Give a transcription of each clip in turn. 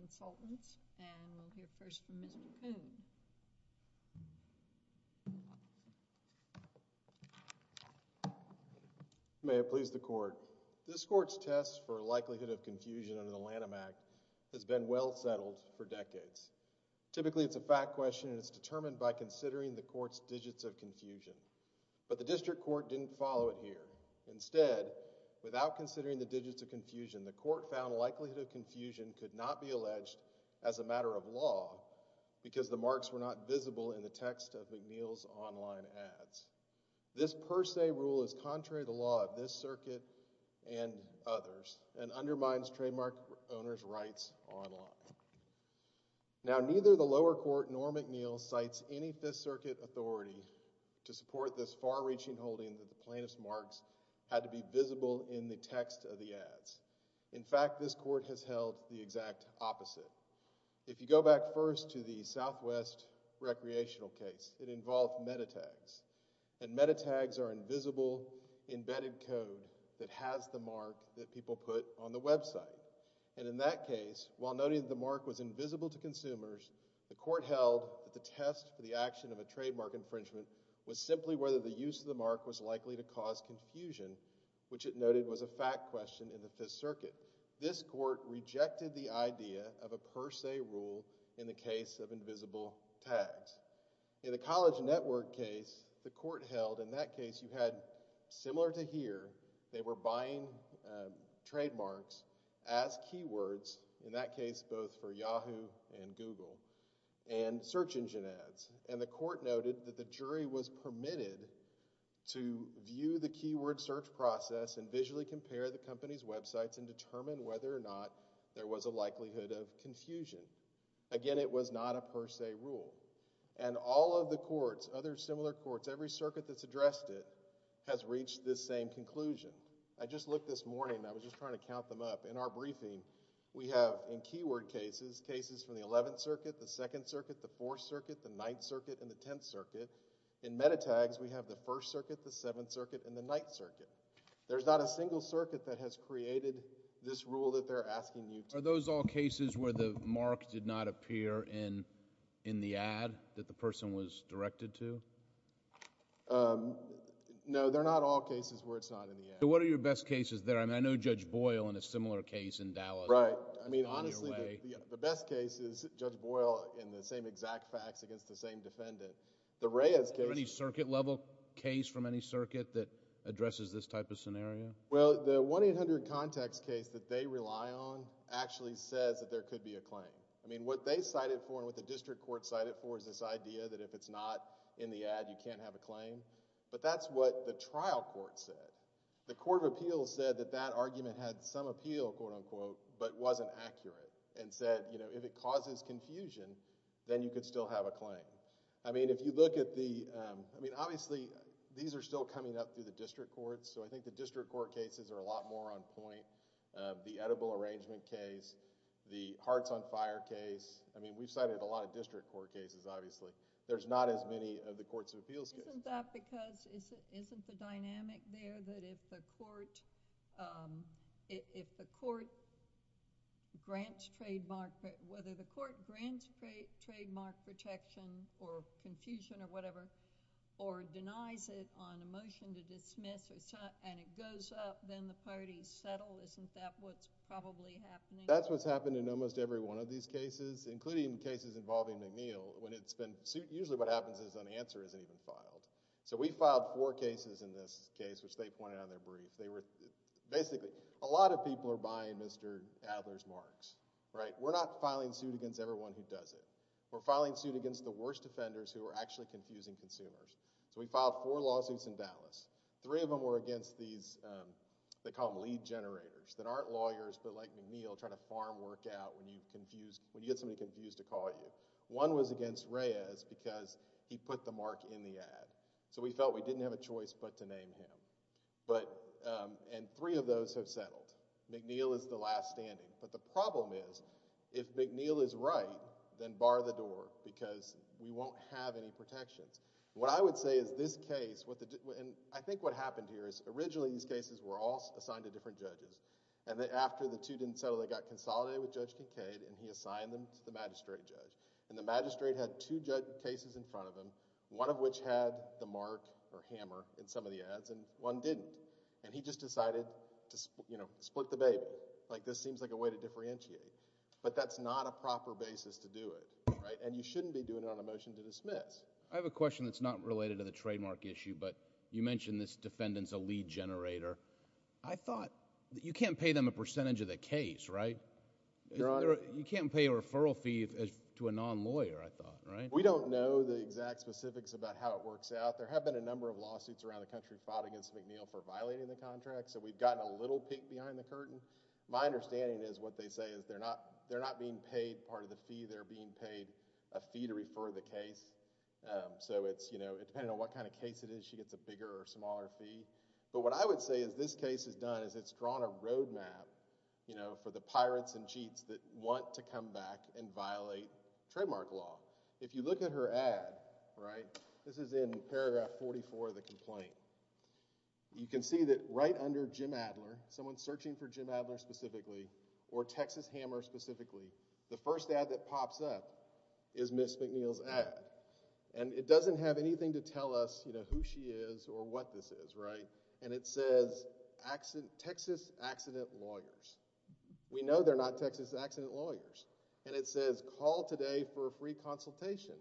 and we'll hear first from Mr. Coon. May it please the court. This court's test for likelihood of confusion under the Lanham Act has been well settled for decades. Typically, it's a fact question and it's determined by considering the court's digits of confusion. But the district court didn't follow it here. Instead, without considering the digits of confusion, the court found likelihood of confusion could not be alleged as a matter of law because the marks were not visible in the text of McNeil's online ads. This per se rule is contrary to the law of this circuit and others and undermines trademark owners' rights online. Now neither the lower court nor McNeil cites any Fifth Circuit authority to support this far-reaching holding that the plaintiff's marks had to be visible in the text of the ads. In fact, this court has held the exact opposite. If you go back first to the Southwest Recreational case, it involved metatags. And metatags are invisible embedded code that has the mark that people put on the website. And in that case, while noting the mark was invisible to consumers, the court held that the test for the action of a trademark infringement was simply whether the use of the mark was This court rejected the idea of a per se rule in the case of invisible tags. In the College Network case, the court held, in that case you had similar to here, they were buying trademarks as keywords, in that case both for Yahoo and Google, and search engine ads. And the court noted that the jury was permitted to view the keyword search process and visually compare the company's websites and determine whether or not there was a likelihood of confusion. Again, it was not a per se rule. And all of the courts, other similar courts, every circuit that's addressed it has reached this same conclusion. I just looked this morning, I was just trying to count them up. In our briefing, we have, in keyword cases, cases from the 11th Circuit, the 2nd Circuit, the 4th Circuit, the 9th Circuit, and the 10th Circuit. In metatags, we have the 1st Circuit, the 7th Circuit, and the 9th Circuit. There's not a single circuit that has created this rule that they're asking you to... Are those all cases where the mark did not appear in the ad that the person was directed to? No, they're not all cases where it's not in the ad. What are your best cases there? I mean, I know Judge Boyle in a similar case in Dallas... Right. I mean, honestly, the best case is Judge Boyle in the same exact facts against the same defendant. The Reyes case... Is there any circuit level case from any circuit that addresses this type of scenario? Well, the 1-800-CONTACTS case that they rely on actually says that there could be a claim. I mean, what they cited for and what the district court cited for is this idea that if it's not in the ad, you can't have a claim, but that's what the trial court said. The Court of Appeals said that that argument had some appeal, quote-unquote, but wasn't accurate and said, you know, if it causes confusion, then you could still have a claim. I mean, if you look at the... I mean, obviously, these are still coming up through the district courts, so I think the district court cases are a lot more on point. The Edible Arrangement case, the Hearts on Fire case, I mean, we've cited a lot of district court cases, obviously. There's not as many of the Courts of Appeals cases. Isn't that because... isn't the dynamic there that if the court grants trademark... whether the court grants trademark protection or confusion or whatever, or denies it on a motion to dismiss, and it goes up, then the parties settle, isn't that what's probably happening? That's what's happened in almost every one of these cases, including cases involving McNeil, when it's been... usually what happens is an answer isn't even filed. So we filed four cases in this case, which they pointed out in their brief. Basically, a lot of people are buying Mr. Adler's marks, right? We're not filing suit against everyone who does it. We're filing suit against the worst offenders who are actually confusing consumers. So we filed four lawsuits in Dallas. Three of them were against these... they call them lead generators, that aren't lawyers, but like McNeil, trying to farm work out when you get somebody confused to call you. One was against Reyes because he put the mark in the ad. So we felt we didn't have a choice but to name him, and three of those have settled. McNeil is the last standing, but the problem is, if McNeil is right, then bar the door because we won't have any protections. What I would say is this case... and I think what happened here is originally these cases were all assigned to different judges, and then after the two didn't settle, they got consolidated with Judge Kincaid, and he assigned them to the magistrate judge. The magistrate had two cases in front of him, one of which had the mark or hammer in some of the ads, and one didn't. He just decided to split the bait, like this seems like a way to differentiate. But that's not a proper basis to do it, and you shouldn't be doing it on a motion to dismiss. I have a question that's not related to the trademark issue, but you mentioned this defendant's a lead generator. I thought you can't pay them a percentage of the case, right? You can't pay a referral fee to a non-lawyer, I thought, right? We don't know the exact specifics about how it works out. There have been a number of lawsuits around the country filed against McNeil for violating the contract, so we've gotten a little peek behind the curtain. My understanding is what they say is they're not being paid part of the fee, they're being paid a fee to refer the case. So it's, you know, depending on what kind of case it is, she gets a bigger or smaller fee. But what I would say is this case has done is it's drawn a road map, you know, for the pirates and cheats that want to come back and violate trademark law. If you look at her ad, right, this is in paragraph 44 of the complaint. You can see that right under Jim Adler, someone searching for Jim Adler specifically, or Texas Hammer specifically, the first ad that pops up is Ms. McNeil's ad. And it doesn't have anything to tell us, you know, who she is or what this is, right? And it says Texas accident lawyers. We know they're not Texas accident lawyers. And it says call today for a free consultation.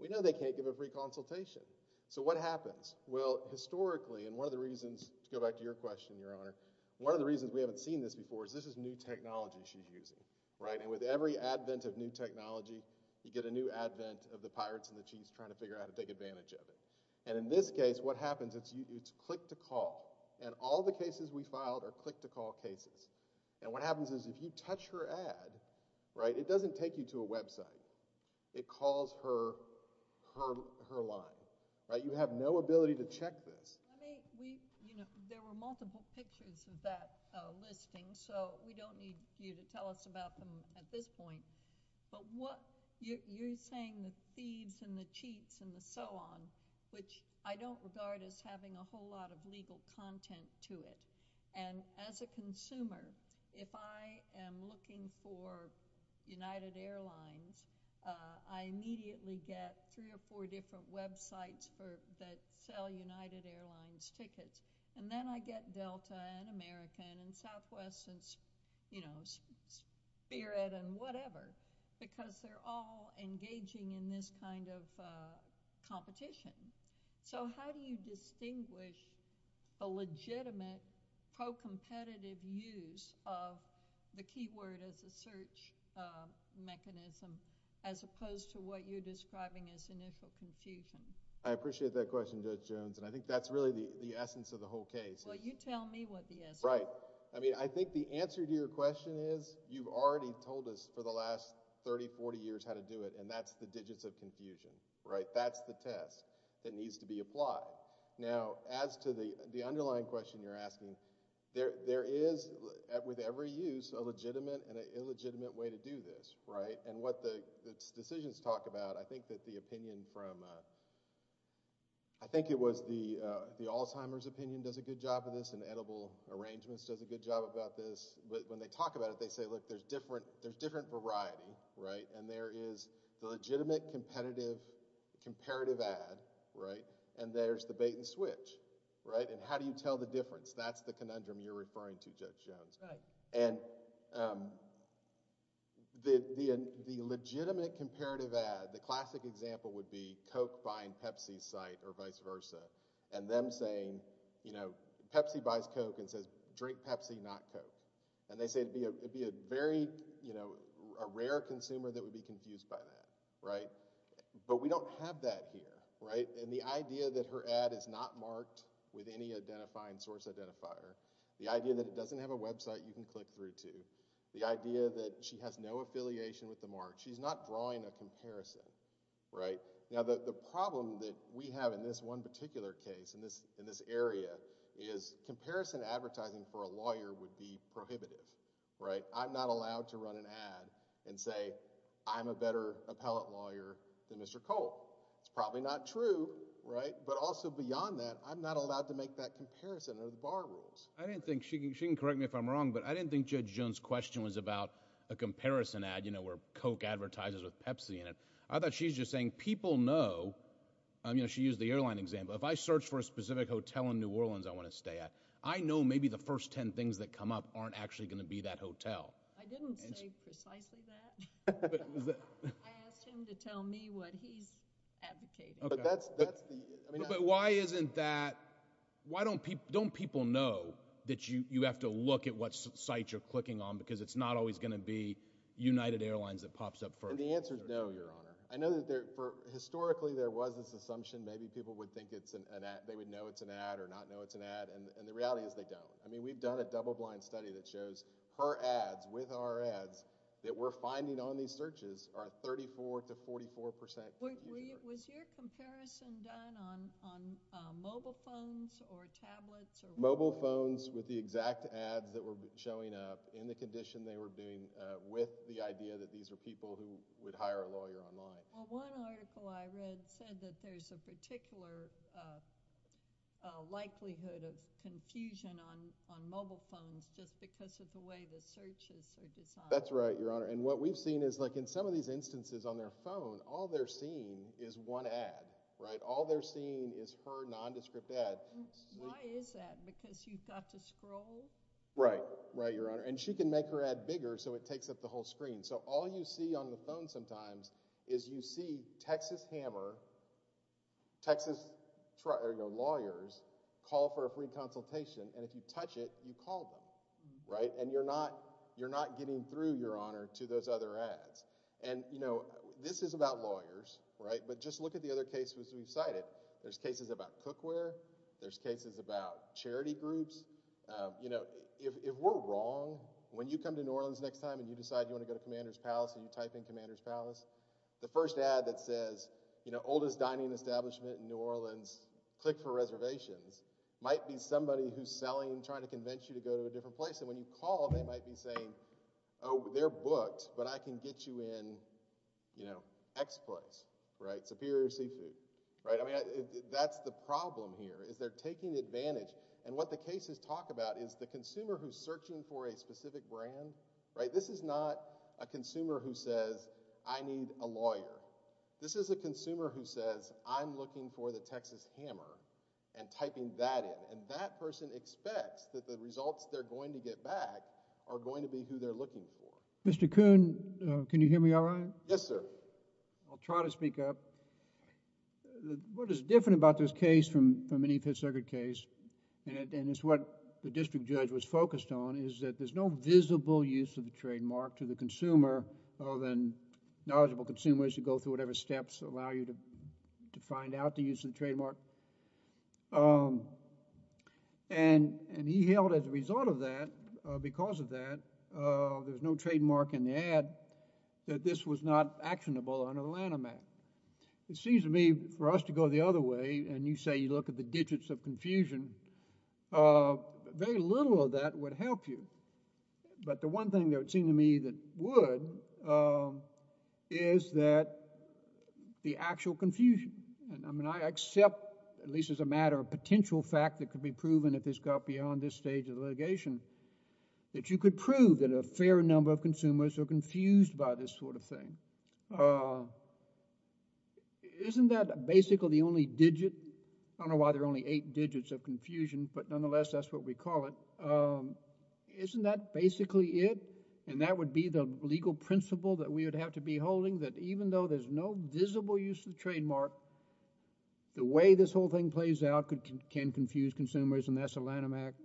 We know they can't give a free consultation. So what happens? Well, historically, and one of the reasons, to go back to your question, Your Honor, one of the reasons we haven't seen this before is this is new technology she's using, right? And with every advent of new technology, you get a new advent of the pirates and the cheats trying to figure out how to take advantage of it. And in this case, what happens, it's click to call. And all the cases we filed are click to call cases. And what happens is if you touch her ad, right, it doesn't take you to a website. It calls her line, right? You have no ability to check this. I mean, we, you know, there were multiple pictures of that listing. So we don't need you to tell us about them at this point. But what you're saying the thieves and the cheats and the so on, which I don't regard as having a whole lot of legal content to it. And as a consumer, if I am looking for United Airlines, I immediately get three or four different websites that sell United Airlines tickets. And then I get Delta and American and Southwest and, you know, Spirit and whatever. Because they're all engaging in this kind of competition. So how do you distinguish a legitimate pro-competitive use of the keyword as a search mechanism as opposed to what you're describing as initial confusion? I appreciate that question, Judge Jones, and I think that's really the essence of the whole case. Well, you tell me what the essence is. Right. I mean, I think the answer to your question is you've already told us for the last 30, 40 years how to do it, and that's the digits of confusion, right? That's the test that needs to be applied. Now as to the underlying question you're asking, there is, with every use, a legitimate and an illegitimate way to do this, right? And what the decisions talk about, I think that the opinion from, I think it was the Alzheimer's opinion does a good job of this and edible arrangements does a good job about this. But when they talk about it, they say, look, there's different variety, right? And there is the legitimate, competitive, comparative ad, right? And there's the bait and switch, right? And how do you tell the difference? That's the conundrum you're referring to, Judge Jones. And the legitimate, comparative ad, the classic example would be Coke buying Pepsi's site or vice versa, and them saying, you know, Pepsi buys Coke and says, drink Pepsi, not Coke. And they say it'd be a very, you know, a rare consumer that would be confused by that, right? But we don't have that here, right? And the idea that her ad is not marked with any identifying source identifier, the idea that it doesn't have a website you can click through to, the idea that she has no affiliation with the mark, she's not drawing a comparison, right? Now, the problem that we have in this one particular case, in this area, is comparison advertising for a lawyer would be prohibitive, right? I'm not allowed to run an ad and say, I'm a better appellate lawyer than Mr. Cole. It's probably not true, right? But also beyond that, I'm not allowed to make that comparison under the bar rules. I didn't think, she can correct me if I'm wrong, but I didn't think Judge Jones' question was about a comparison ad, you know, where Coke advertises with Pepsi in it. I thought she was just saying people know, you know, she used the airline example, if I search for a specific hotel in New Orleans I want to stay at, I know maybe the first ten things that come up aren't actually going to be that hotel. I didn't say precisely that. I asked him to tell me what he's advocating. But why isn't that, why don't people know that you have to look at what sites you're clicking on because it's not always going to be United Airlines that pops up first? And the answer is no, Your Honor. I know that historically there was this assumption, maybe people would think it's an ad, they would know it's an ad or not know it's an ad, and the reality is they don't. I mean, we've done a double-blind study that shows per ads, with our ads, that we're finding on these searches are 34 to 44 percent. Was your comparison done on mobile phones or tablets? Mobile phones with the exact ads that were showing up in the condition they were being with the idea that these are people who would hire a lawyer online. Well, one article I read said that there's a particular likelihood of confusion on mobile phones just because of the way the searches are designed. That's right, Your Honor, and what we've seen is like in some of these instances on their phone, all they're seeing is one ad, right? All they're seeing is her nondescript ad. Why is that? Because you've got to scroll? Right, right, Your Honor, and she can make her ad bigger so it takes up the whole screen. So all you see on the phone sometimes is you see Texas Hammer, Texas lawyers, call for a free consultation, and if you touch it, you call them, right? And you're not getting through, Your Honor, to those other ads. And, you know, this is about lawyers, right, but just look at the other cases we've cited. There's cases about cookware, there's cases about charity groups, you know, if we're wrong, when you come to New Orleans next time and you decide you want to go to Commander's Palace and you type in Commander's Palace, the first ad that says, you know, oldest dining establishment in New Orleans, click for reservations, might be somebody who's selling, trying to convince you to go to a different place, and when you call, they might be saying, oh, they're booked, but I can get you in, you know, X Place, right, Superior Seafood, right? I mean, that's the problem here is they're taking advantage, and what the cases talk about is the consumer who's searching for a specific brand, right, this is not a consumer who says, I need a lawyer. This is a consumer who says, I'm looking for the Texas Hammer, and typing that in, and that person expects that the results they're going to get back are going to be who they're looking for. Mr. Kuhn, can you hear me all right? Yes, sir. I'll try to speak up. What is different about this case from any fifth circuit case, and it's what the district judge was focused on, is that there's no visible use of the trademark to the consumer other than knowledgeable consumers who go through whatever steps allow you to find out the use of the trademark, and he held as a result of that, because of that, there's no trademark in the ad, that this was not actionable under the Lanham Act. It seems to me, for us to go the other way, and you say you look at the digits of confusion, very little of that would help you, but the one thing that would seem to me that would is that the actual confusion, and I mean, I accept, at least as a matter of potential fact that could be proven if this got beyond this stage of litigation, that you could prove that a fair number of consumers are confused by this sort of thing. Isn't that basically the only digit, I don't know why there are only eight digits of confusion, but nonetheless, that's what we call it, isn't that basically it, and that would be the legal principle that we would have to be holding, that even though there's no visible use of the trademark, the way this whole thing plays out can confuse consumers, and that's a Lanham Act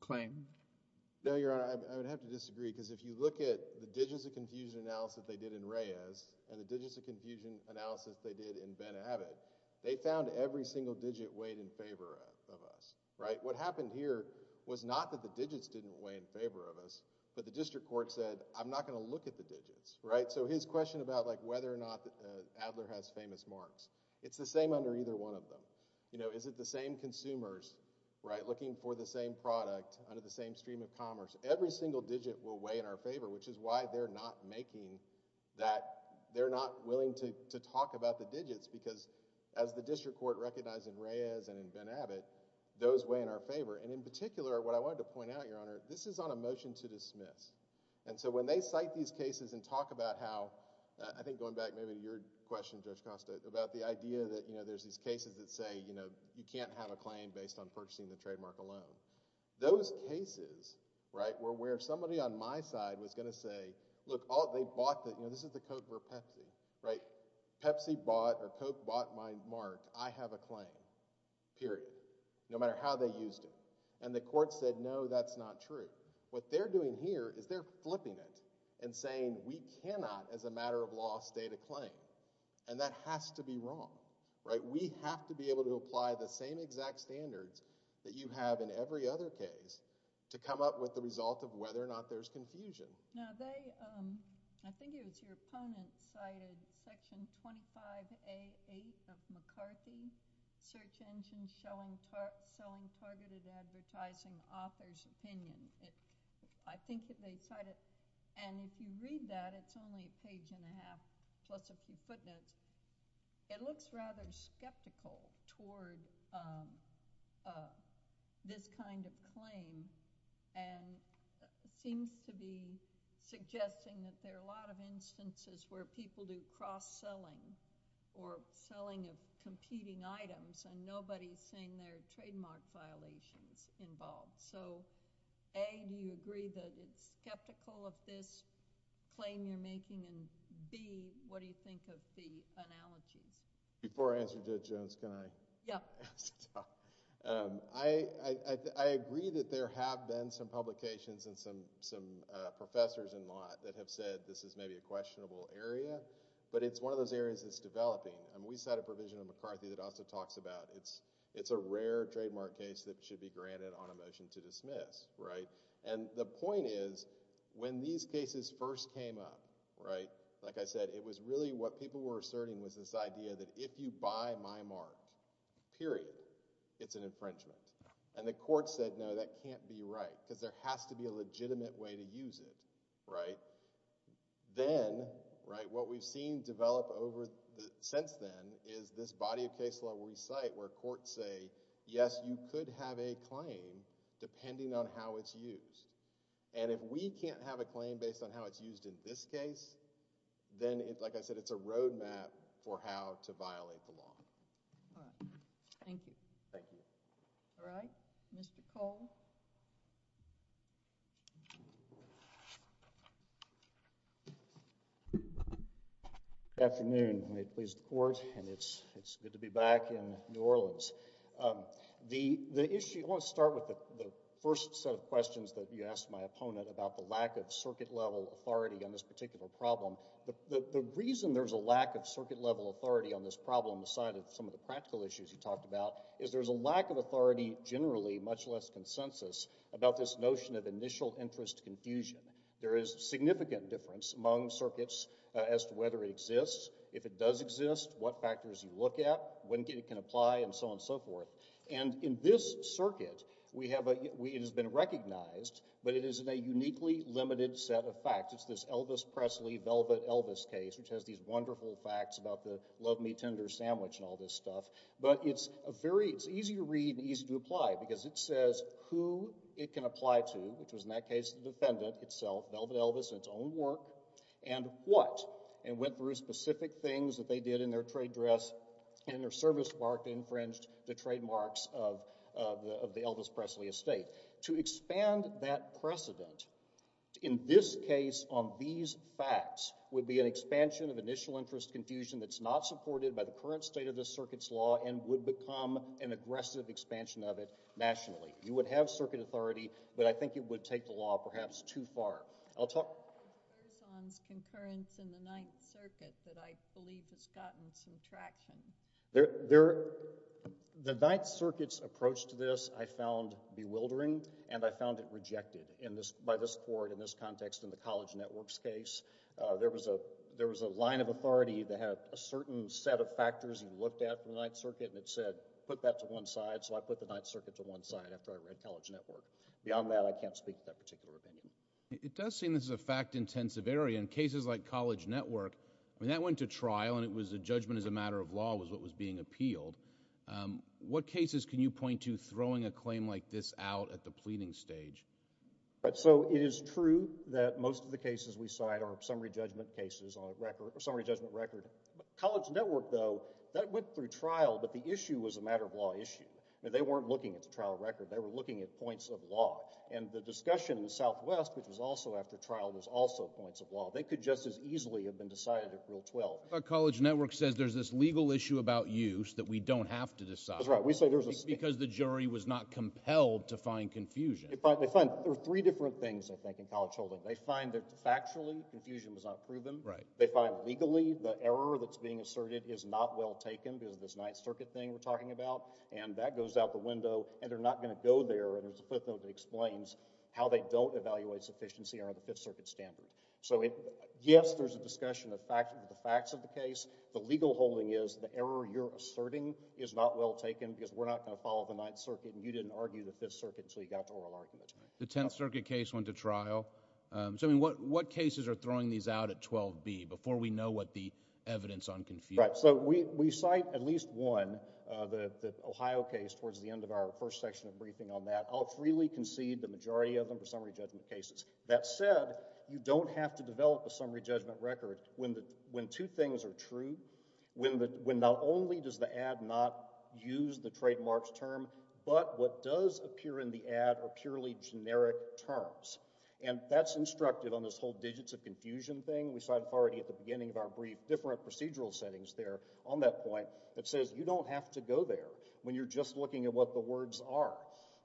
claim. No, Your Honor, I would have to disagree, because if you look at the digits of confusion analysis they did in Reyes, and the digits of confusion analysis they did in Ben Abbott, they found every single digit weighed in favor of us, right? What happened here was not that the digits didn't weigh in favor of us, but the district court said, I'm not going to look at the digits, right? So his question about whether or not Adler has famous marks, it's the same under either one of them. You know, is it the same consumers, right, looking for the same product under the same stream of commerce, every single digit will weigh in our favor, which is why they're not making that, they're not willing to talk about the digits, because as the district court recognized in Reyes and in Ben Abbott, those weigh in our favor, and in particular, what I wanted to point out, Your Honor, this is on a motion to dismiss, and so when they cite these cases and talk about how, I think going back maybe to your question, Judge Costa, about the idea that there's these cases that say, you know, you can't have a claim based on purchasing the trademark alone, those cases, right, were where somebody on my side was going to say, look, they bought the, this is the code for Pepsi, right? Pepsi bought or Coke bought my mark, I have a claim, period, no matter how they used it, and the court said, no, that's not true. What they're doing here is they're flipping it and saying, we cannot as a matter of law pass data claim, and that has to be wrong, right, we have to be able to apply the same exact standards that you have in every other case to come up with the result of whether or not there's confusion. Now, they, I think it was your opponent cited Section 25A.8 of McCarthy, search engine showing targeted advertising author's opinion, I think that they cited, and if you read that, it's only a page and a half, plus a few footnotes, it looks rather skeptical toward this kind of claim and seems to be suggesting that there are a lot of instances where people do cross-selling or selling of competing items and nobody's saying there are trademark violations involved. So, A, do you agree that it's skeptical of this claim you're making, and B, what do you think of the analogies? Before I answer Judge Jones, can I... Yeah. I agree that there have been some publications and some professors in law that have said this is maybe a questionable area, but it's one of those areas that's developing. We cite a provision in McCarthy that also talks about it's a rare trademark case that should be granted on a motion to dismiss, right? And the point is, when these cases first came up, right, like I said, it was really what people were asserting was this idea that if you buy my mark, period, it's an infringement. And the court said, no, that can't be right, because there has to be a legitimate way to use it, right? Then, right, what we've seen develop over, since then, is this body of case law we cite where courts say, yes, you could have a claim depending on how it's used. And if we can't have a claim based on how it's used in this case, then, like I said, it's a road map for how to violate the law. All right. Thank you. Thank you. All right. Mr. Cole? Good afternoon. May it please the Court. And it's good to be back in New Orleans. The issue, I want to start with the first set of questions that you asked my opponent about the lack of circuit-level authority on this particular problem. The reason there's a lack of circuit-level authority on this problem, aside of some of the practical issues you talked about, is there's a lack of authority, generally, much less consensus, about this notion of initial interest confusion. There is significant difference among circuits as to whether it exists. If it does exist, what factors you look at, when it can apply, and so on and so forth. And in this circuit, we have a—it has been recognized, but it is in a uniquely limited set of facts. It's this Elvis Presley, Velvet Elvis case, which has these wonderful facts about the Love Me Tender sandwich and all this stuff. But it's a very—it's easy to read and easy to apply, because it says who it can apply to, which was, in that case, the defendant itself, Velvet Elvis and its own work, and what. And went through specific things that they did in their trade dress, and their service mark infringed the trademarks of the Elvis Presley estate. To expand that precedent, in this case, on these facts, would be an expansion of initial interest confusion that's not supported by the current state of the circuit's law, and would become an aggressive expansion of it nationally. You would have circuit authority, but I think it would take the law perhaps too far. I'll talk— What about Erson's concurrence in the Ninth Circuit that I believe has gotten some traction? The Ninth Circuit's approach to this, I found bewildering, and I found it rejected in this—by this court, in this context, in the College Network's case. There was a—there was a line of authority that had a certain set of factors you looked at for the Ninth Circuit, and it said, put that to one side, so I put the Ninth Circuit to one side after I read College Network. Beyond that, I can't speak to that particular opinion. It does seem this is a fact-intensive area. In cases like College Network, I mean, that went to trial, and it was a judgment as a matter of law was what was being appealed. What cases can you point to throwing a claim like this out at the pleading stage? So it is true that most of the cases we cite are summary judgment cases on a record—summary judgment record. College Network, though, that went through trial, but the issue was a matter of law issue. They weren't looking at the trial record, they were looking at points of law. And the discussion in the Southwest, which was also after trial, was also points of law. They could just as easily have been decided at Rule 12. But College Network says there's this legal issue about use that we don't have to decide— That's right. We say there's a— —because the jury was not compelled to find confusion. They find—there are three different things, I think, in College Holdings. They find that factually, confusion was not proven. Right. They find legally the error that's being asserted is not well taken because of this Ninth Circuit thing we're talking about, and that goes out the window, and they're not going to go there, and there's a footnote that explains how they don't evaluate sufficiency under the Fifth Circuit standard. So, yes, there's a discussion of the facts of the case. The legal holding is the error you're asserting is not well taken because we're not going to follow the Ninth Circuit, and you didn't argue the Fifth Circuit until you got to oral argument. The Tenth Circuit case went to trial. So, I mean, what cases are throwing these out at 12b before we know what the evidence on confusion— Right. So, we cite at least one, the Ohio case, towards the end of our first section of briefing on that. I'll freely concede the majority of them are summary judgment cases. That said, you don't have to develop a summary judgment record when two things are true, when not only does the ad not use the trademarks term, but what does appear in the ad are purely generic terms, and that's instructed on this whole digits of confusion thing. We cited already at the beginning of our brief different procedural settings there on that point that says you don't have to go there when you're just looking at what the words are.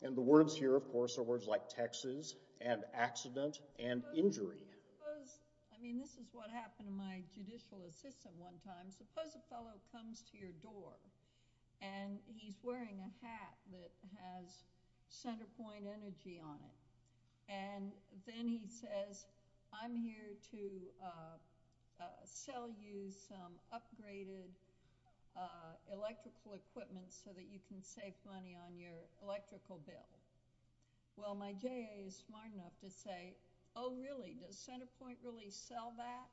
And the words here, of course, are words like Texas and accident and injury. Suppose—I mean, this is what happened to my judicial assistant one time—suppose a fellow comes to your door, and he's wearing a hat that has Centerpoint Energy on it, and then he says, I'm here to sell you some upgraded electrical equipment so that you can save money on your electrical bill. Well, my J.A. is smart enough to say, oh really, does Centerpoint really sell that?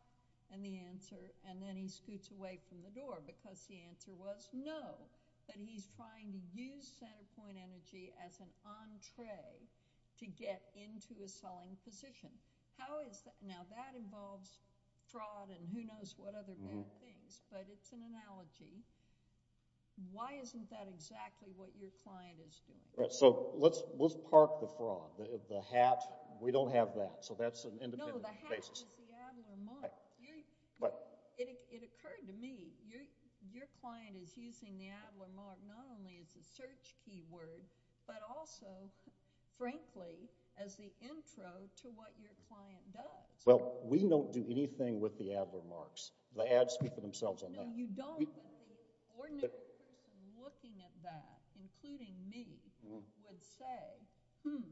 And the answer—and then he scoots away from the door because the answer was no, that he's trying to use Centerpoint Energy as an entree to get into a selling position. Now that involves fraud and who knows what other bad things, but it's an analogy. Why isn't that exactly what your client is doing? So let's park the fraud. The hat, we don't have that, so that's an independent basis. No, the hat is the Adler mark. It occurred to me, your client is using the Adler mark not only as a search keyword, but also, frankly, as the intro to what your client does. Well, we don't do anything with the Adler marks. The ads speak for themselves on that. No, you don't. Ordinary person looking at that, including me, would say, hmm,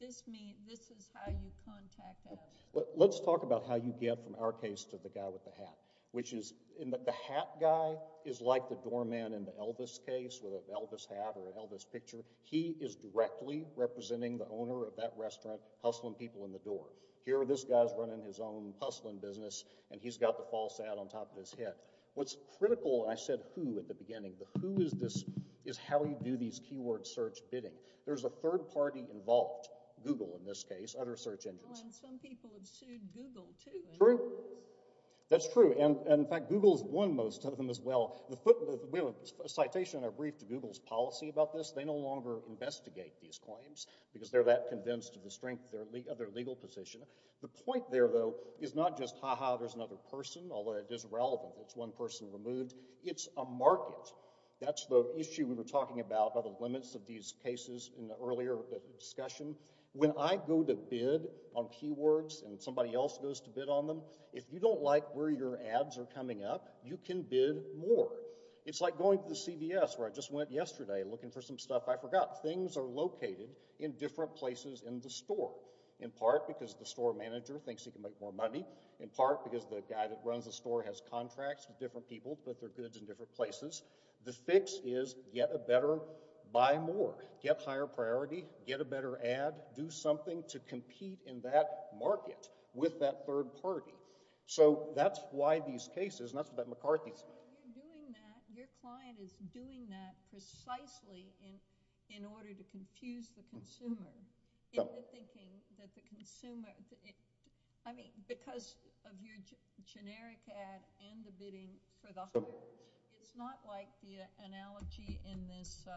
this is how you contact us. Let's talk about how you get from our case to the guy with the hat, which is, the hat guy is like the doorman in the Elvis case with an Elvis hat or an Elvis picture. He is directly representing the owner of that restaurant, hustling people in the door. Here this guy's running his own hustling business and he's got the false ad on top of his head. What's critical, and I said who at the beginning, the who is how you do these keyword search bidding. There's a third party involved, Google in this case, other search engines. Some people have sued Google too. True. That's true. In fact, Google has won most of them as well. We have a citation in our brief to Google's policy about this. They no longer investigate these claims because they're that convinced of the strength of their legal position. The point there, though, is not just, ha-ha, there's another person, although it is relevant. It's one person removed. It's a market. That's the issue we were talking about, about the limits of these cases in the earlier discussion. When I go to bid on keywords and somebody else goes to bid on them, if you don't like where your ads are coming up, you can bid more. It's like going to the CVS where I just went yesterday looking for some stuff I forgot. Things are located in different places in the store, in part because the store manager thinks he can make more money, in part because the guy that runs the store has contracts with different people, put their goods in different places. The fix is get a better, buy more. Get higher priority. Get a better ad. Do something to compete in that market with that third party. That's why these cases, and that's what McCarthy's doing. You're doing that, your client is doing that precisely in order to confuse the consumer into thinking that the consumer, because of your generic ad and the bidding for the higher priority, doesn't like the analogy in this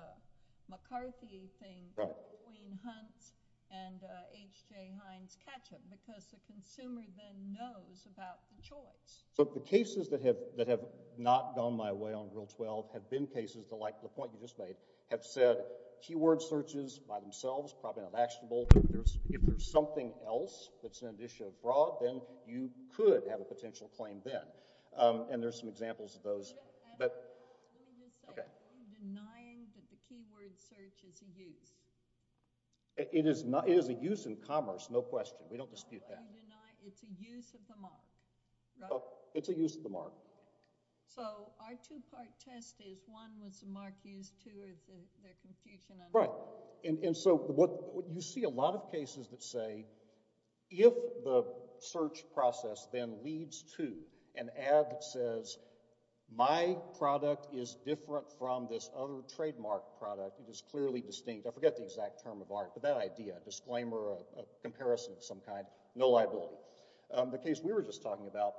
McCarthy thing where Queen Hunt and H.J. Hines catch them because the consumer then knows about the choice. The cases that have not gone my way on Rule 12 have been cases that, like the point you just made, have said keyword searches by themselves, probably not actionable. If there's something else that's an issue abroad, then you could have a potential claim then. There's some examples of those. I'm just saying, are you denying that the keyword search is a use? It is a use in commerce, no question. We don't dispute that. But you deny it's a use of the mark, right? It's a use of the mark. So our two-part test is, one, was the mark used? Two, is there confusion on both? Right. And so you see a lot of cases that say, if the search process then leads to an ad that says, my product is different from this other trademark product, it is clearly distinct. I forget the exact term of mark, but that idea, a disclaimer, a comparison of some kind, no liability. The case we were just talking about,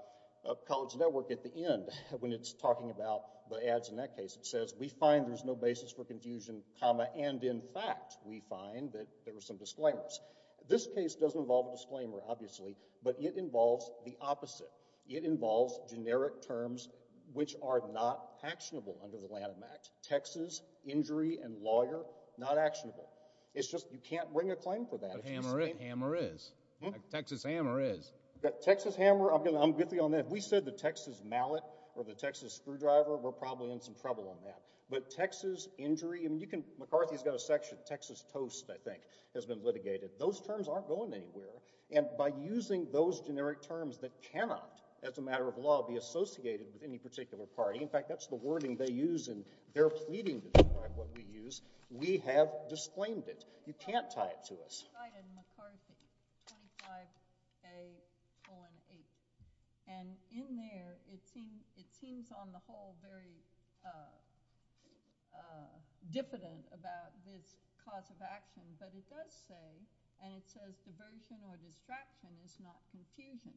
College Network at the end, when it's talking about the ads in that case, it says, we find there's no basis for confusion, comma, and in fact, we find that there were some disclaimers. This case doesn't involve a disclaimer, obviously, but it involves the opposite. It involves generic terms which are not actionable under the Lanham Act. Texas, injury, and lawyer, not actionable. It's just, you can't bring a claim for that. But hammer is. Texas hammer is. Texas hammer, I'm with you on that. If we said the Texas mallet or the Texas screwdriver, we're probably in some trouble on that. But Texas injury, McCarthy's got a section, Texas toast, I think, has been litigated. Those terms aren't going anywhere. And by using those generic terms that cannot, as a matter of law, be associated with any particular party, in fact, that's the wording they use and they're pleading to describe what we use, we have disclaimed it. You can't tie it to us. I cited McCarthy, 25A.08. And in there, it seems on the whole very diffident about this cause of action. But it does say, and it says, diversion or distraction is not confusion.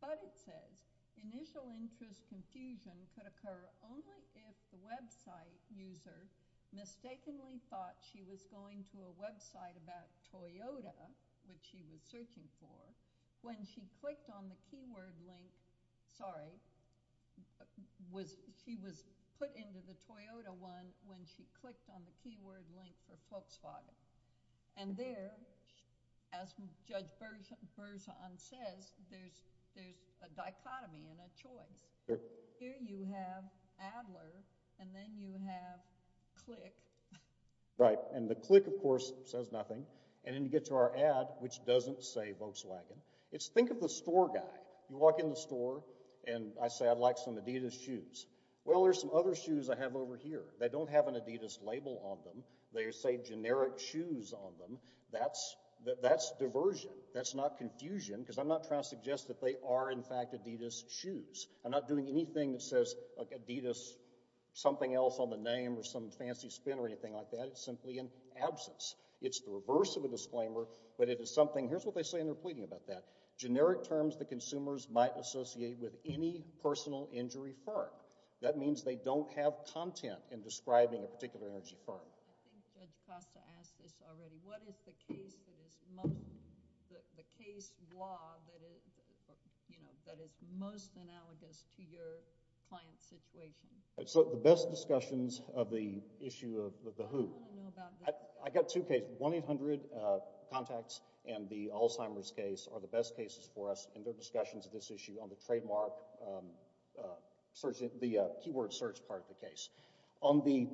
But it says, initial interest confusion could occur only if the website user mistakenly thought she was going to a website about Toyota, which she was searching for, when she clicked on the keyword link, sorry, she was put into the Toyota one when she clicked on the keyword link for Volkswagen. And there, as Judge Berzon says, there's a dichotomy and a choice. Here you have Adler and then you have Click. Right. And the Click, of course, says nothing. And then you get to our Ad, which doesn't say Volkswagen. It's think of the store guy. You walk in the store and I say, I'd like some Adidas shoes. Well, there's some other shoes I have over here. They don't have an Adidas label on them. They say generic shoes on them. That's diversion. That's not confusion. Because I'm not trying to suggest that they are, in fact, Adidas shoes. I'm not doing anything that says Adidas something else on the name or some fancy spin or anything like that. It's simply an absence. It's the reverse of a disclaimer, but it is something, here's what they say and they're pleading about that. Generic terms that consumers might associate with any personal injury firm. That means they don't have content in describing a particular energy firm. I think Judge Costa asked this already. What is the case that is most analogous to your client's situation? The best discussions of the issue of the who. I got two cases. 1-800-CONTACTS and the Alzheimer's case are the best cases for us. And there are discussions of this issue on the trademark, the keyword search part of the case. On the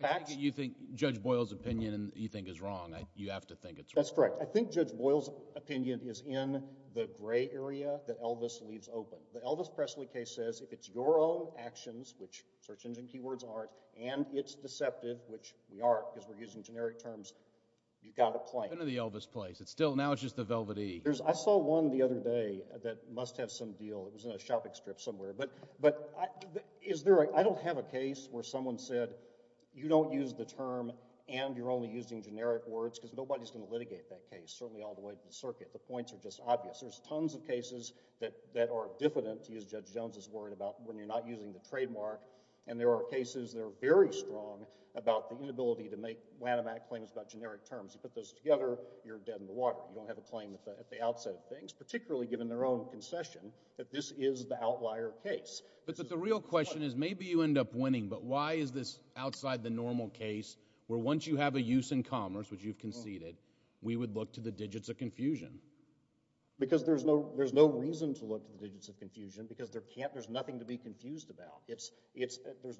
facts... You think Judge Boyle's opinion you think is wrong. You have to think it's wrong. That's correct. I think Judge Boyle's opinion is in the gray area that Elvis leaves open. The Elvis Presley case says if it's your own actions, which search engine keywords aren't, and it's deceptive, which we aren't because we're using generic terms, you've got a claim. It's still in the Elvis place. Now it's just the Velvet E. I saw one the other day that must have some deal. It was in a shopping strip somewhere. I don't have a case where someone said, you don't use the term and you're only using generic words because nobody's going to litigate that case, certainly all the way to the circuit. The points are just obvious. There's tons of cases that are diffident, to use Judge Jones' word, about when you're not using the trademark. And there are cases that are very strong about the inability to make whanamatic claims about generic terms. You put those together, you're dead in the water. You don't have a claim at the outset of things, particularly given their own concession, that this is the outlier case. But the real question is, maybe you end up winning, but why is this outside the normal case where once you have a use in commerce, which you've conceded, we would look to the digits of confusion? Because there's no reason to look to the digits of confusion because there's nothing to be confused about. There's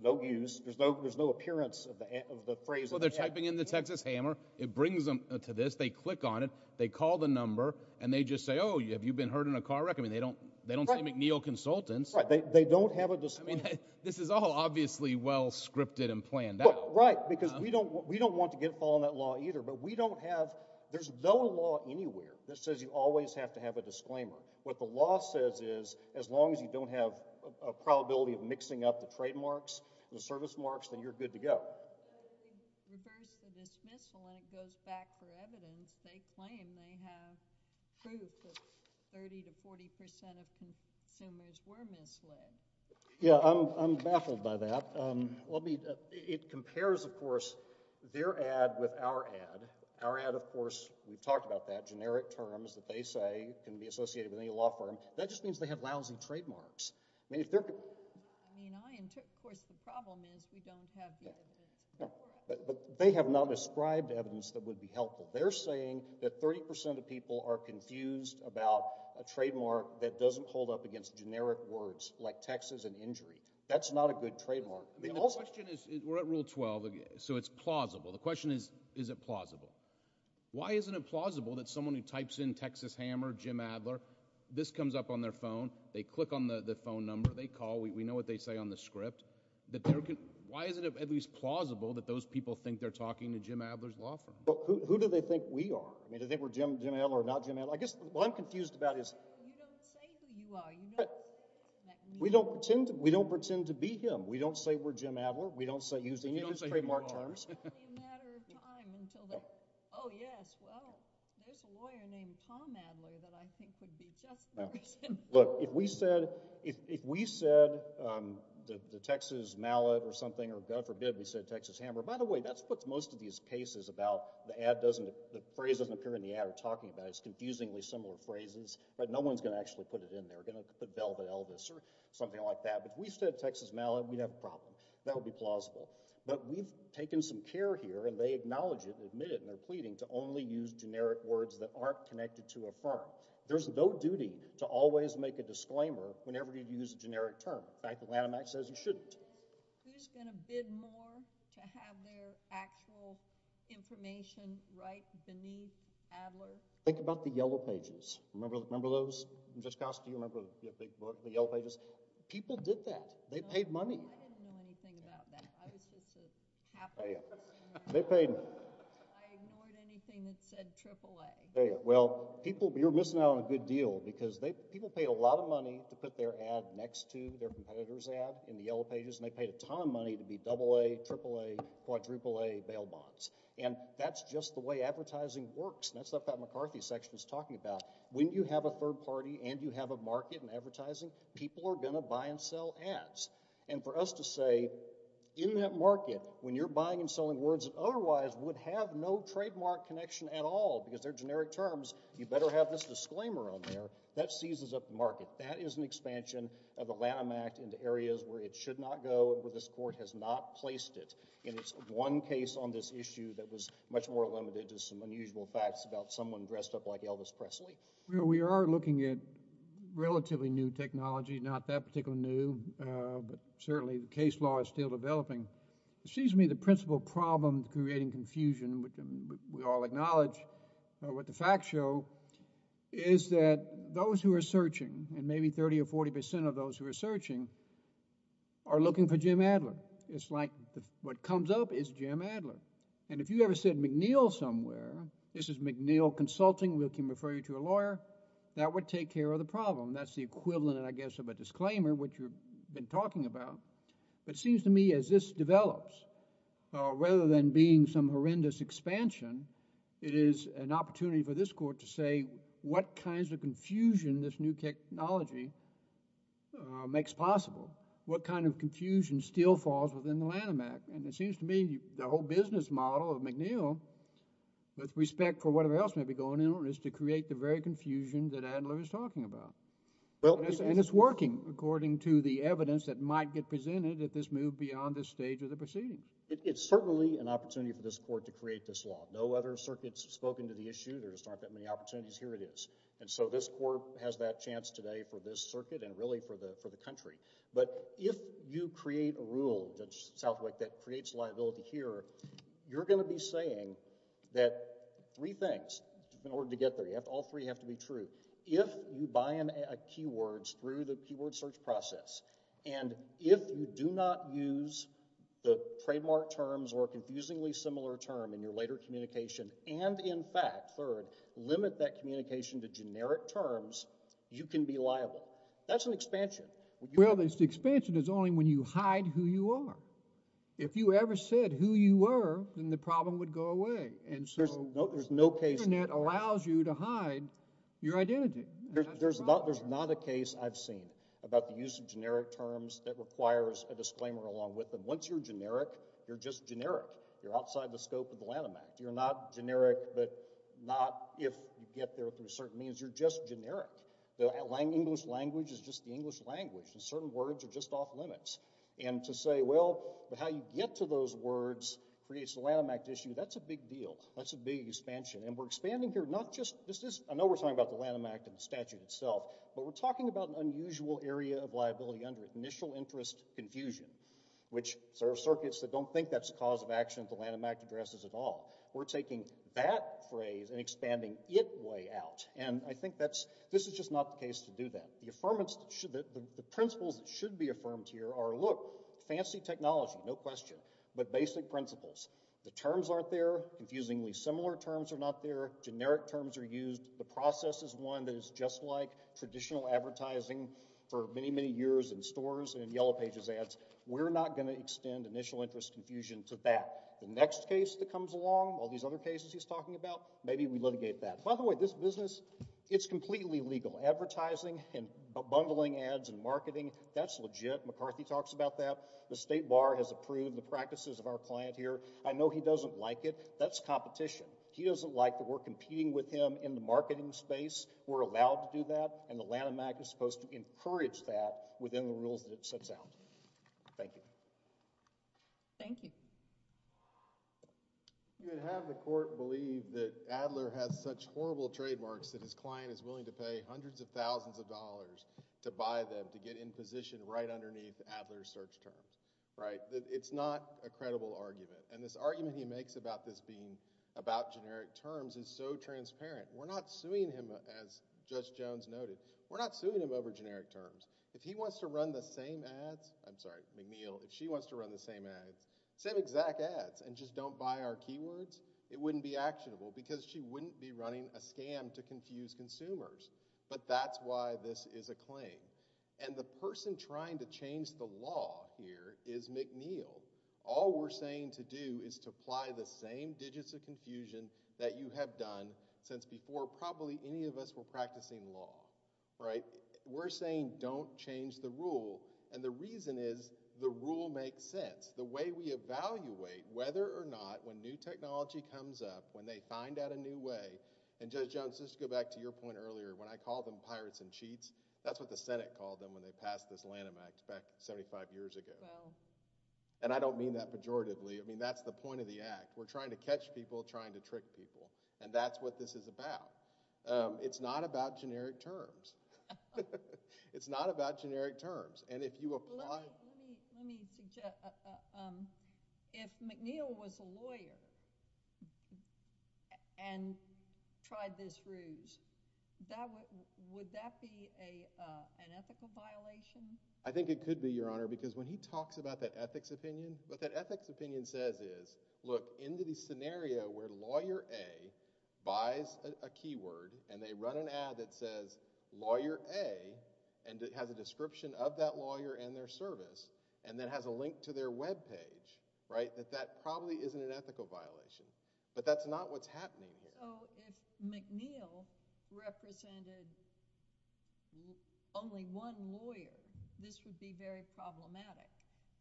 no use, there's no appearance of the phrase. Well, they're typing in the Texas Hammer, it brings them to this, they click on it, they call the number, and they just say, oh, have you been hurt in a car wreck? I mean, they don't say McNeil Consultants. Right, they don't have a disclaimer. I mean, this is all obviously well scripted and planned out. Right, because we don't want to get caught in that law either, but we don't have, there's no law anywhere that says you always have to have a disclaimer. What the law says is, as long as you don't have a probability of mixing up the trademarks, the service marks, then you're good to go. When you reverse the dismissal and it goes back for evidence, they claim they have proof that 30 to 40 percent of consumers were misled. Yeah, I'm baffled by that. It compares, of course, their ad with our ad. Our ad, of course, we've talked about that, generic terms that they say can be associated with any law firm. That just means they have lousy trademarks. I mean, of course, the problem is we don't have the evidence. But they have not described evidence that would be helpful. They're saying that 30 percent of people are confused about a trademark that doesn't hold up against generic words like Texas and injury. That's not a good trademark. The question is, we're at Rule 12, so it's plausible. The question is, is it plausible? Why isn't it plausible that someone who types in Texas Hammer, Jim Adler, this comes up on their phone, they click on the phone number, they call, we know what they say on the script. Who do they think we are? Do they think we're Jim Adler or not Jim Adler? I guess what I'm confused about is... You don't say who you are. We don't pretend to be him. We don't say we're Jim Adler. We don't use any of his trademark terms. It won't be a matter of time until they say, oh yes, well, there's a lawyer named Tom Adler that I think would be just the reason. Look, if we said the Texas Mallet or something, or God forbid we said Texas Hammer, by the way, that's what most of these cases about the phrase doesn't appear in the ad or talking about is confusingly similar phrases. No one's going to actually put it in there. They're going to put Velvet Elvis or something like that. But if we said Texas Mallet, we'd have a problem. That would be plausible. But we've taken some care here, and they acknowledge it and admit it, and they're pleading to only use generic words that aren't connected to a firm. There's no duty to always make a disclaimer whenever you use a generic term. In fact, the Lanham Act says you shouldn't. Who's going to bid more to have their actual information right beneath Adler? Think about the Yellow Pages. Remember those? Remember the Yellow Pages? People did that. They paid money. I didn't know anything about that. I was just a capitalist. I ignored anything that said AAA. They paid a ton of money to put their ad next to their competitor's ad in the Yellow Pages, and they paid a ton of money to be AA, AAA, AAA bail bonds. And that's just the way advertising works. And that's the stuff that McCarthy's section is talking about. When you have a third party and you have a market in advertising, people are going to buy and sell ads. And for us to say, in that market, when you're buying and selling words that otherwise would have no trademark connection at all because they're generic terms, you better have this disclaimer on there, that seizes up the market. That is an expansion of the Lanham Act into areas where it should not go, where this Court has not placed it. And it's one case on this issue that was much more limited to some unusual facts about someone dressed up like Elvis Presley. We are looking at relatively new technology, not that particularly new, but certainly the case law is still developing. It seems to me the principal problem creating confusion, and we all acknowledge what the facts show, is that those who are searching, and maybe 30 or 40 percent of those who are searching, are looking for Jim Adler. It's like what comes up is Jim Adler. And if you ever said McNeil somewhere, this is McNeil Consulting, we can refer you to a lawyer, that would take care of the problem. That's the equivalent, I guess, of a disclaimer, what you've been talking about. But it seems to me as this develops, rather than being some horrendous expansion, it is an opportunity for this Court to say, what kinds of confusion this new technology makes possible? What kind of confusion still falls within the Lanham Act? And it seems to me the whole business model of McNeil, with respect for whatever else may be going on, is to create the very confusion that Adler is talking about. And it's working, according to the evidence that might get presented if this moved beyond this stage of the proceedings. It's certainly an opportunity for this Court to create this law. No other circuits have spoken to the issue. There just aren't that many opportunities. Here it is. And so this Court has that chance today for this circuit, and really for the country. But if you create a rule, Judge Southwick, that creates liability here, you're going to be saying that three things, in order to get there, all three have to be true. If you buy in keywords through the keyword search process, and if you do not use the trademark terms or a confusingly similar term in your later communication, and in fact, third, limit that communication to generic terms, you can be liable. That's an expansion. Well, this expansion is only when you hide who you are. If you ever said who you were, then the problem would go away. The Internet allows you to hide your identity. There's not a case I've seen about the use of generic terms that requires a disclaimer along with them. Once you're generic, you're just generic. You're outside the scope of the Lanham Act. You're not generic, but not if you get there through certain means. You're just generic. The English language is just the English language. Certain words are just off limits. And to say, well, how you get to those words creates the Lanham Act issue, that's a big deal. That's a big expansion. And we're expanding here not just, I know we're talking about the Lanham Act and the statute itself, but we're talking about an unusual area of liability under initial interest confusion, which are circuits that don't think that's a cause of action that the Lanham Act addresses at all. We're taking that phrase and expanding it way out. And I think this is just not the case to do that. The principles that should be affirmed here are, look, fancy technology, no question, but basic principles. The terms aren't there. Confusingly similar terms are not there. Generic terms are used. The process is one that is just like traditional advertising for many, many years in stores and Yellow Pages ads. We're not going to extend initial interest confusion to that. The next case that comes along, all these other cases he's talking about, maybe we litigate that. By the way, this business, it's completely legal. Advertising and bundling ads and marketing, that's legit. McCarthy talks about that. The State Bar has approved the practices of our client here. I know he doesn't like it. That's competition. He doesn't like that we're competing with him in the marketing space. We're allowed to do that, and the Lanham Act is supposed to encourage that within the rules that it sets out. Thank you. Thank you. You would have the court believe that Adler has such horrible trademarks that his client is willing to pay hundreds of thousands of dollars to buy them to get in position right underneath Adler's search terms. Right? It's not a credible argument. And this argument he makes about this being about generic terms is so transparent. We're not suing him, as Judge Jones noted. We're not suing him over generic terms. If he wants to run the same ads, I'm sorry, McNeil, if she wants to run the same ads, same exact ads, and just don't buy our keywords, it wouldn't be actionable because she wouldn't be running a scam to confuse consumers. But that's why this is a claim. And the person trying to change the law here is McNeil. All we're saying to do is to apply the same digits of confusion that you have done since before probably any of us were practicing law. Right? We're saying don't change the rule. And the reason is the rule makes sense. The way we evaluate whether or not when new technology comes up, when they find out a new way, and Judge Jones, just to go back to your point earlier, when I call them pirates and cheats, that's what the Senate called them when they passed this Lanham Act back 75 years ago. And I don't mean that pejoratively. I mean, that's the point of the Act. We're trying to catch people trying to trick people. And that's what this is about. It's not about generic terms. It's not about generic terms. And if you apply... Let me suggest, if McNeil was a lawyer and tried this ruse, would that be an ethical violation? I think it could be, Your Honor, because when he talks about that ethics opinion, what that ethics opinion says is, look, in the scenario where Lawyer A buys a keyword and they run an ad that says Lawyer A and it has a description of that lawyer and their service and then has a link to their webpage, right, that that probably isn't an ethical violation. But that's not what's happening here. So, if McNeil represented only one lawyer, this would be very problematic.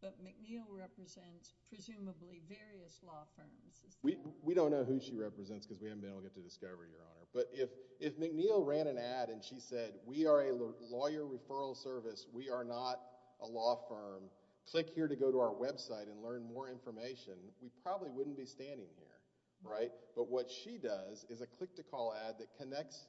But McNeil represents presumably various law firms. We don't know who she represents because we haven't been able to get to discover, Your Honor. But if McNeil ran an ad and she said, we are a lawyer referral service, we are not a law firm, click here to go to our website and learn more information, we probably wouldn't be standing here, right? But what she does is a click-to-call ad that connects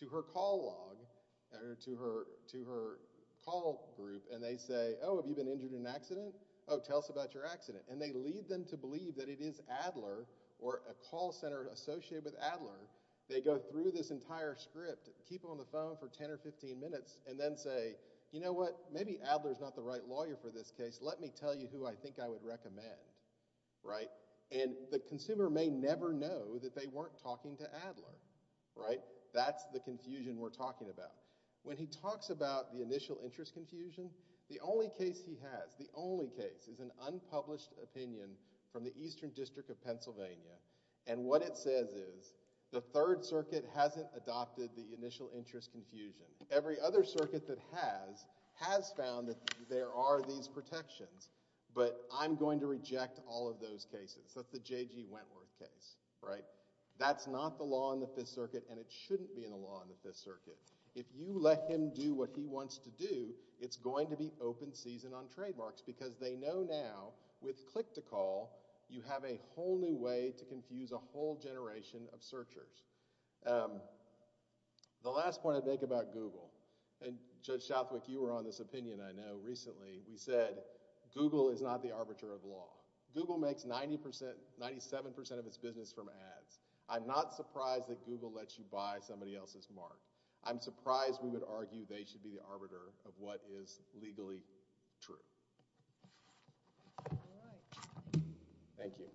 to her call log or to her call group and they say, oh, have you been injured in an accident? Oh, tell us about your accident. And they lead them to believe that it is Adler or a call center associated with Adler. They go through this entire script, keep it on the phone for 10 or 15 minutes, and then say, you know what? Maybe Adler's not the right lawyer for this case. Let me tell you who I think I would recommend, right? And the consumer may never know that they weren't talking to Adler. Right? That's the confusion we're talking about. When he talks about the initial interest confusion, the only case he has, the only case, is an unpublished opinion from the Eastern District of Pennsylvania. And what it says is, the Third Circuit hasn't adopted the initial interest confusion. Every other circuit that has, has found that there are these protections. But I'm going to reject all of those cases. That's the J.G. Wentworth case, right? That's not the law in the Fifth Circuit, and it shouldn't be in the law in the Fifth Circuit. If you let him do what he wants to do, it's going to be open season on trademarks, because they know now, with click-to-call, you have a whole new way to confuse a whole generation of searchers. Um, the last point I'd make about Google, and Judge Southwick, you were on this opinion, I know, recently. We said, Google is not the arbiter of law. Google makes 90%, 97% of its business from ads. I'm not surprised that Google lets you buy somebody else's mark. I'm surprised we would argue they should be the arbiter of what is legally true. Thank you.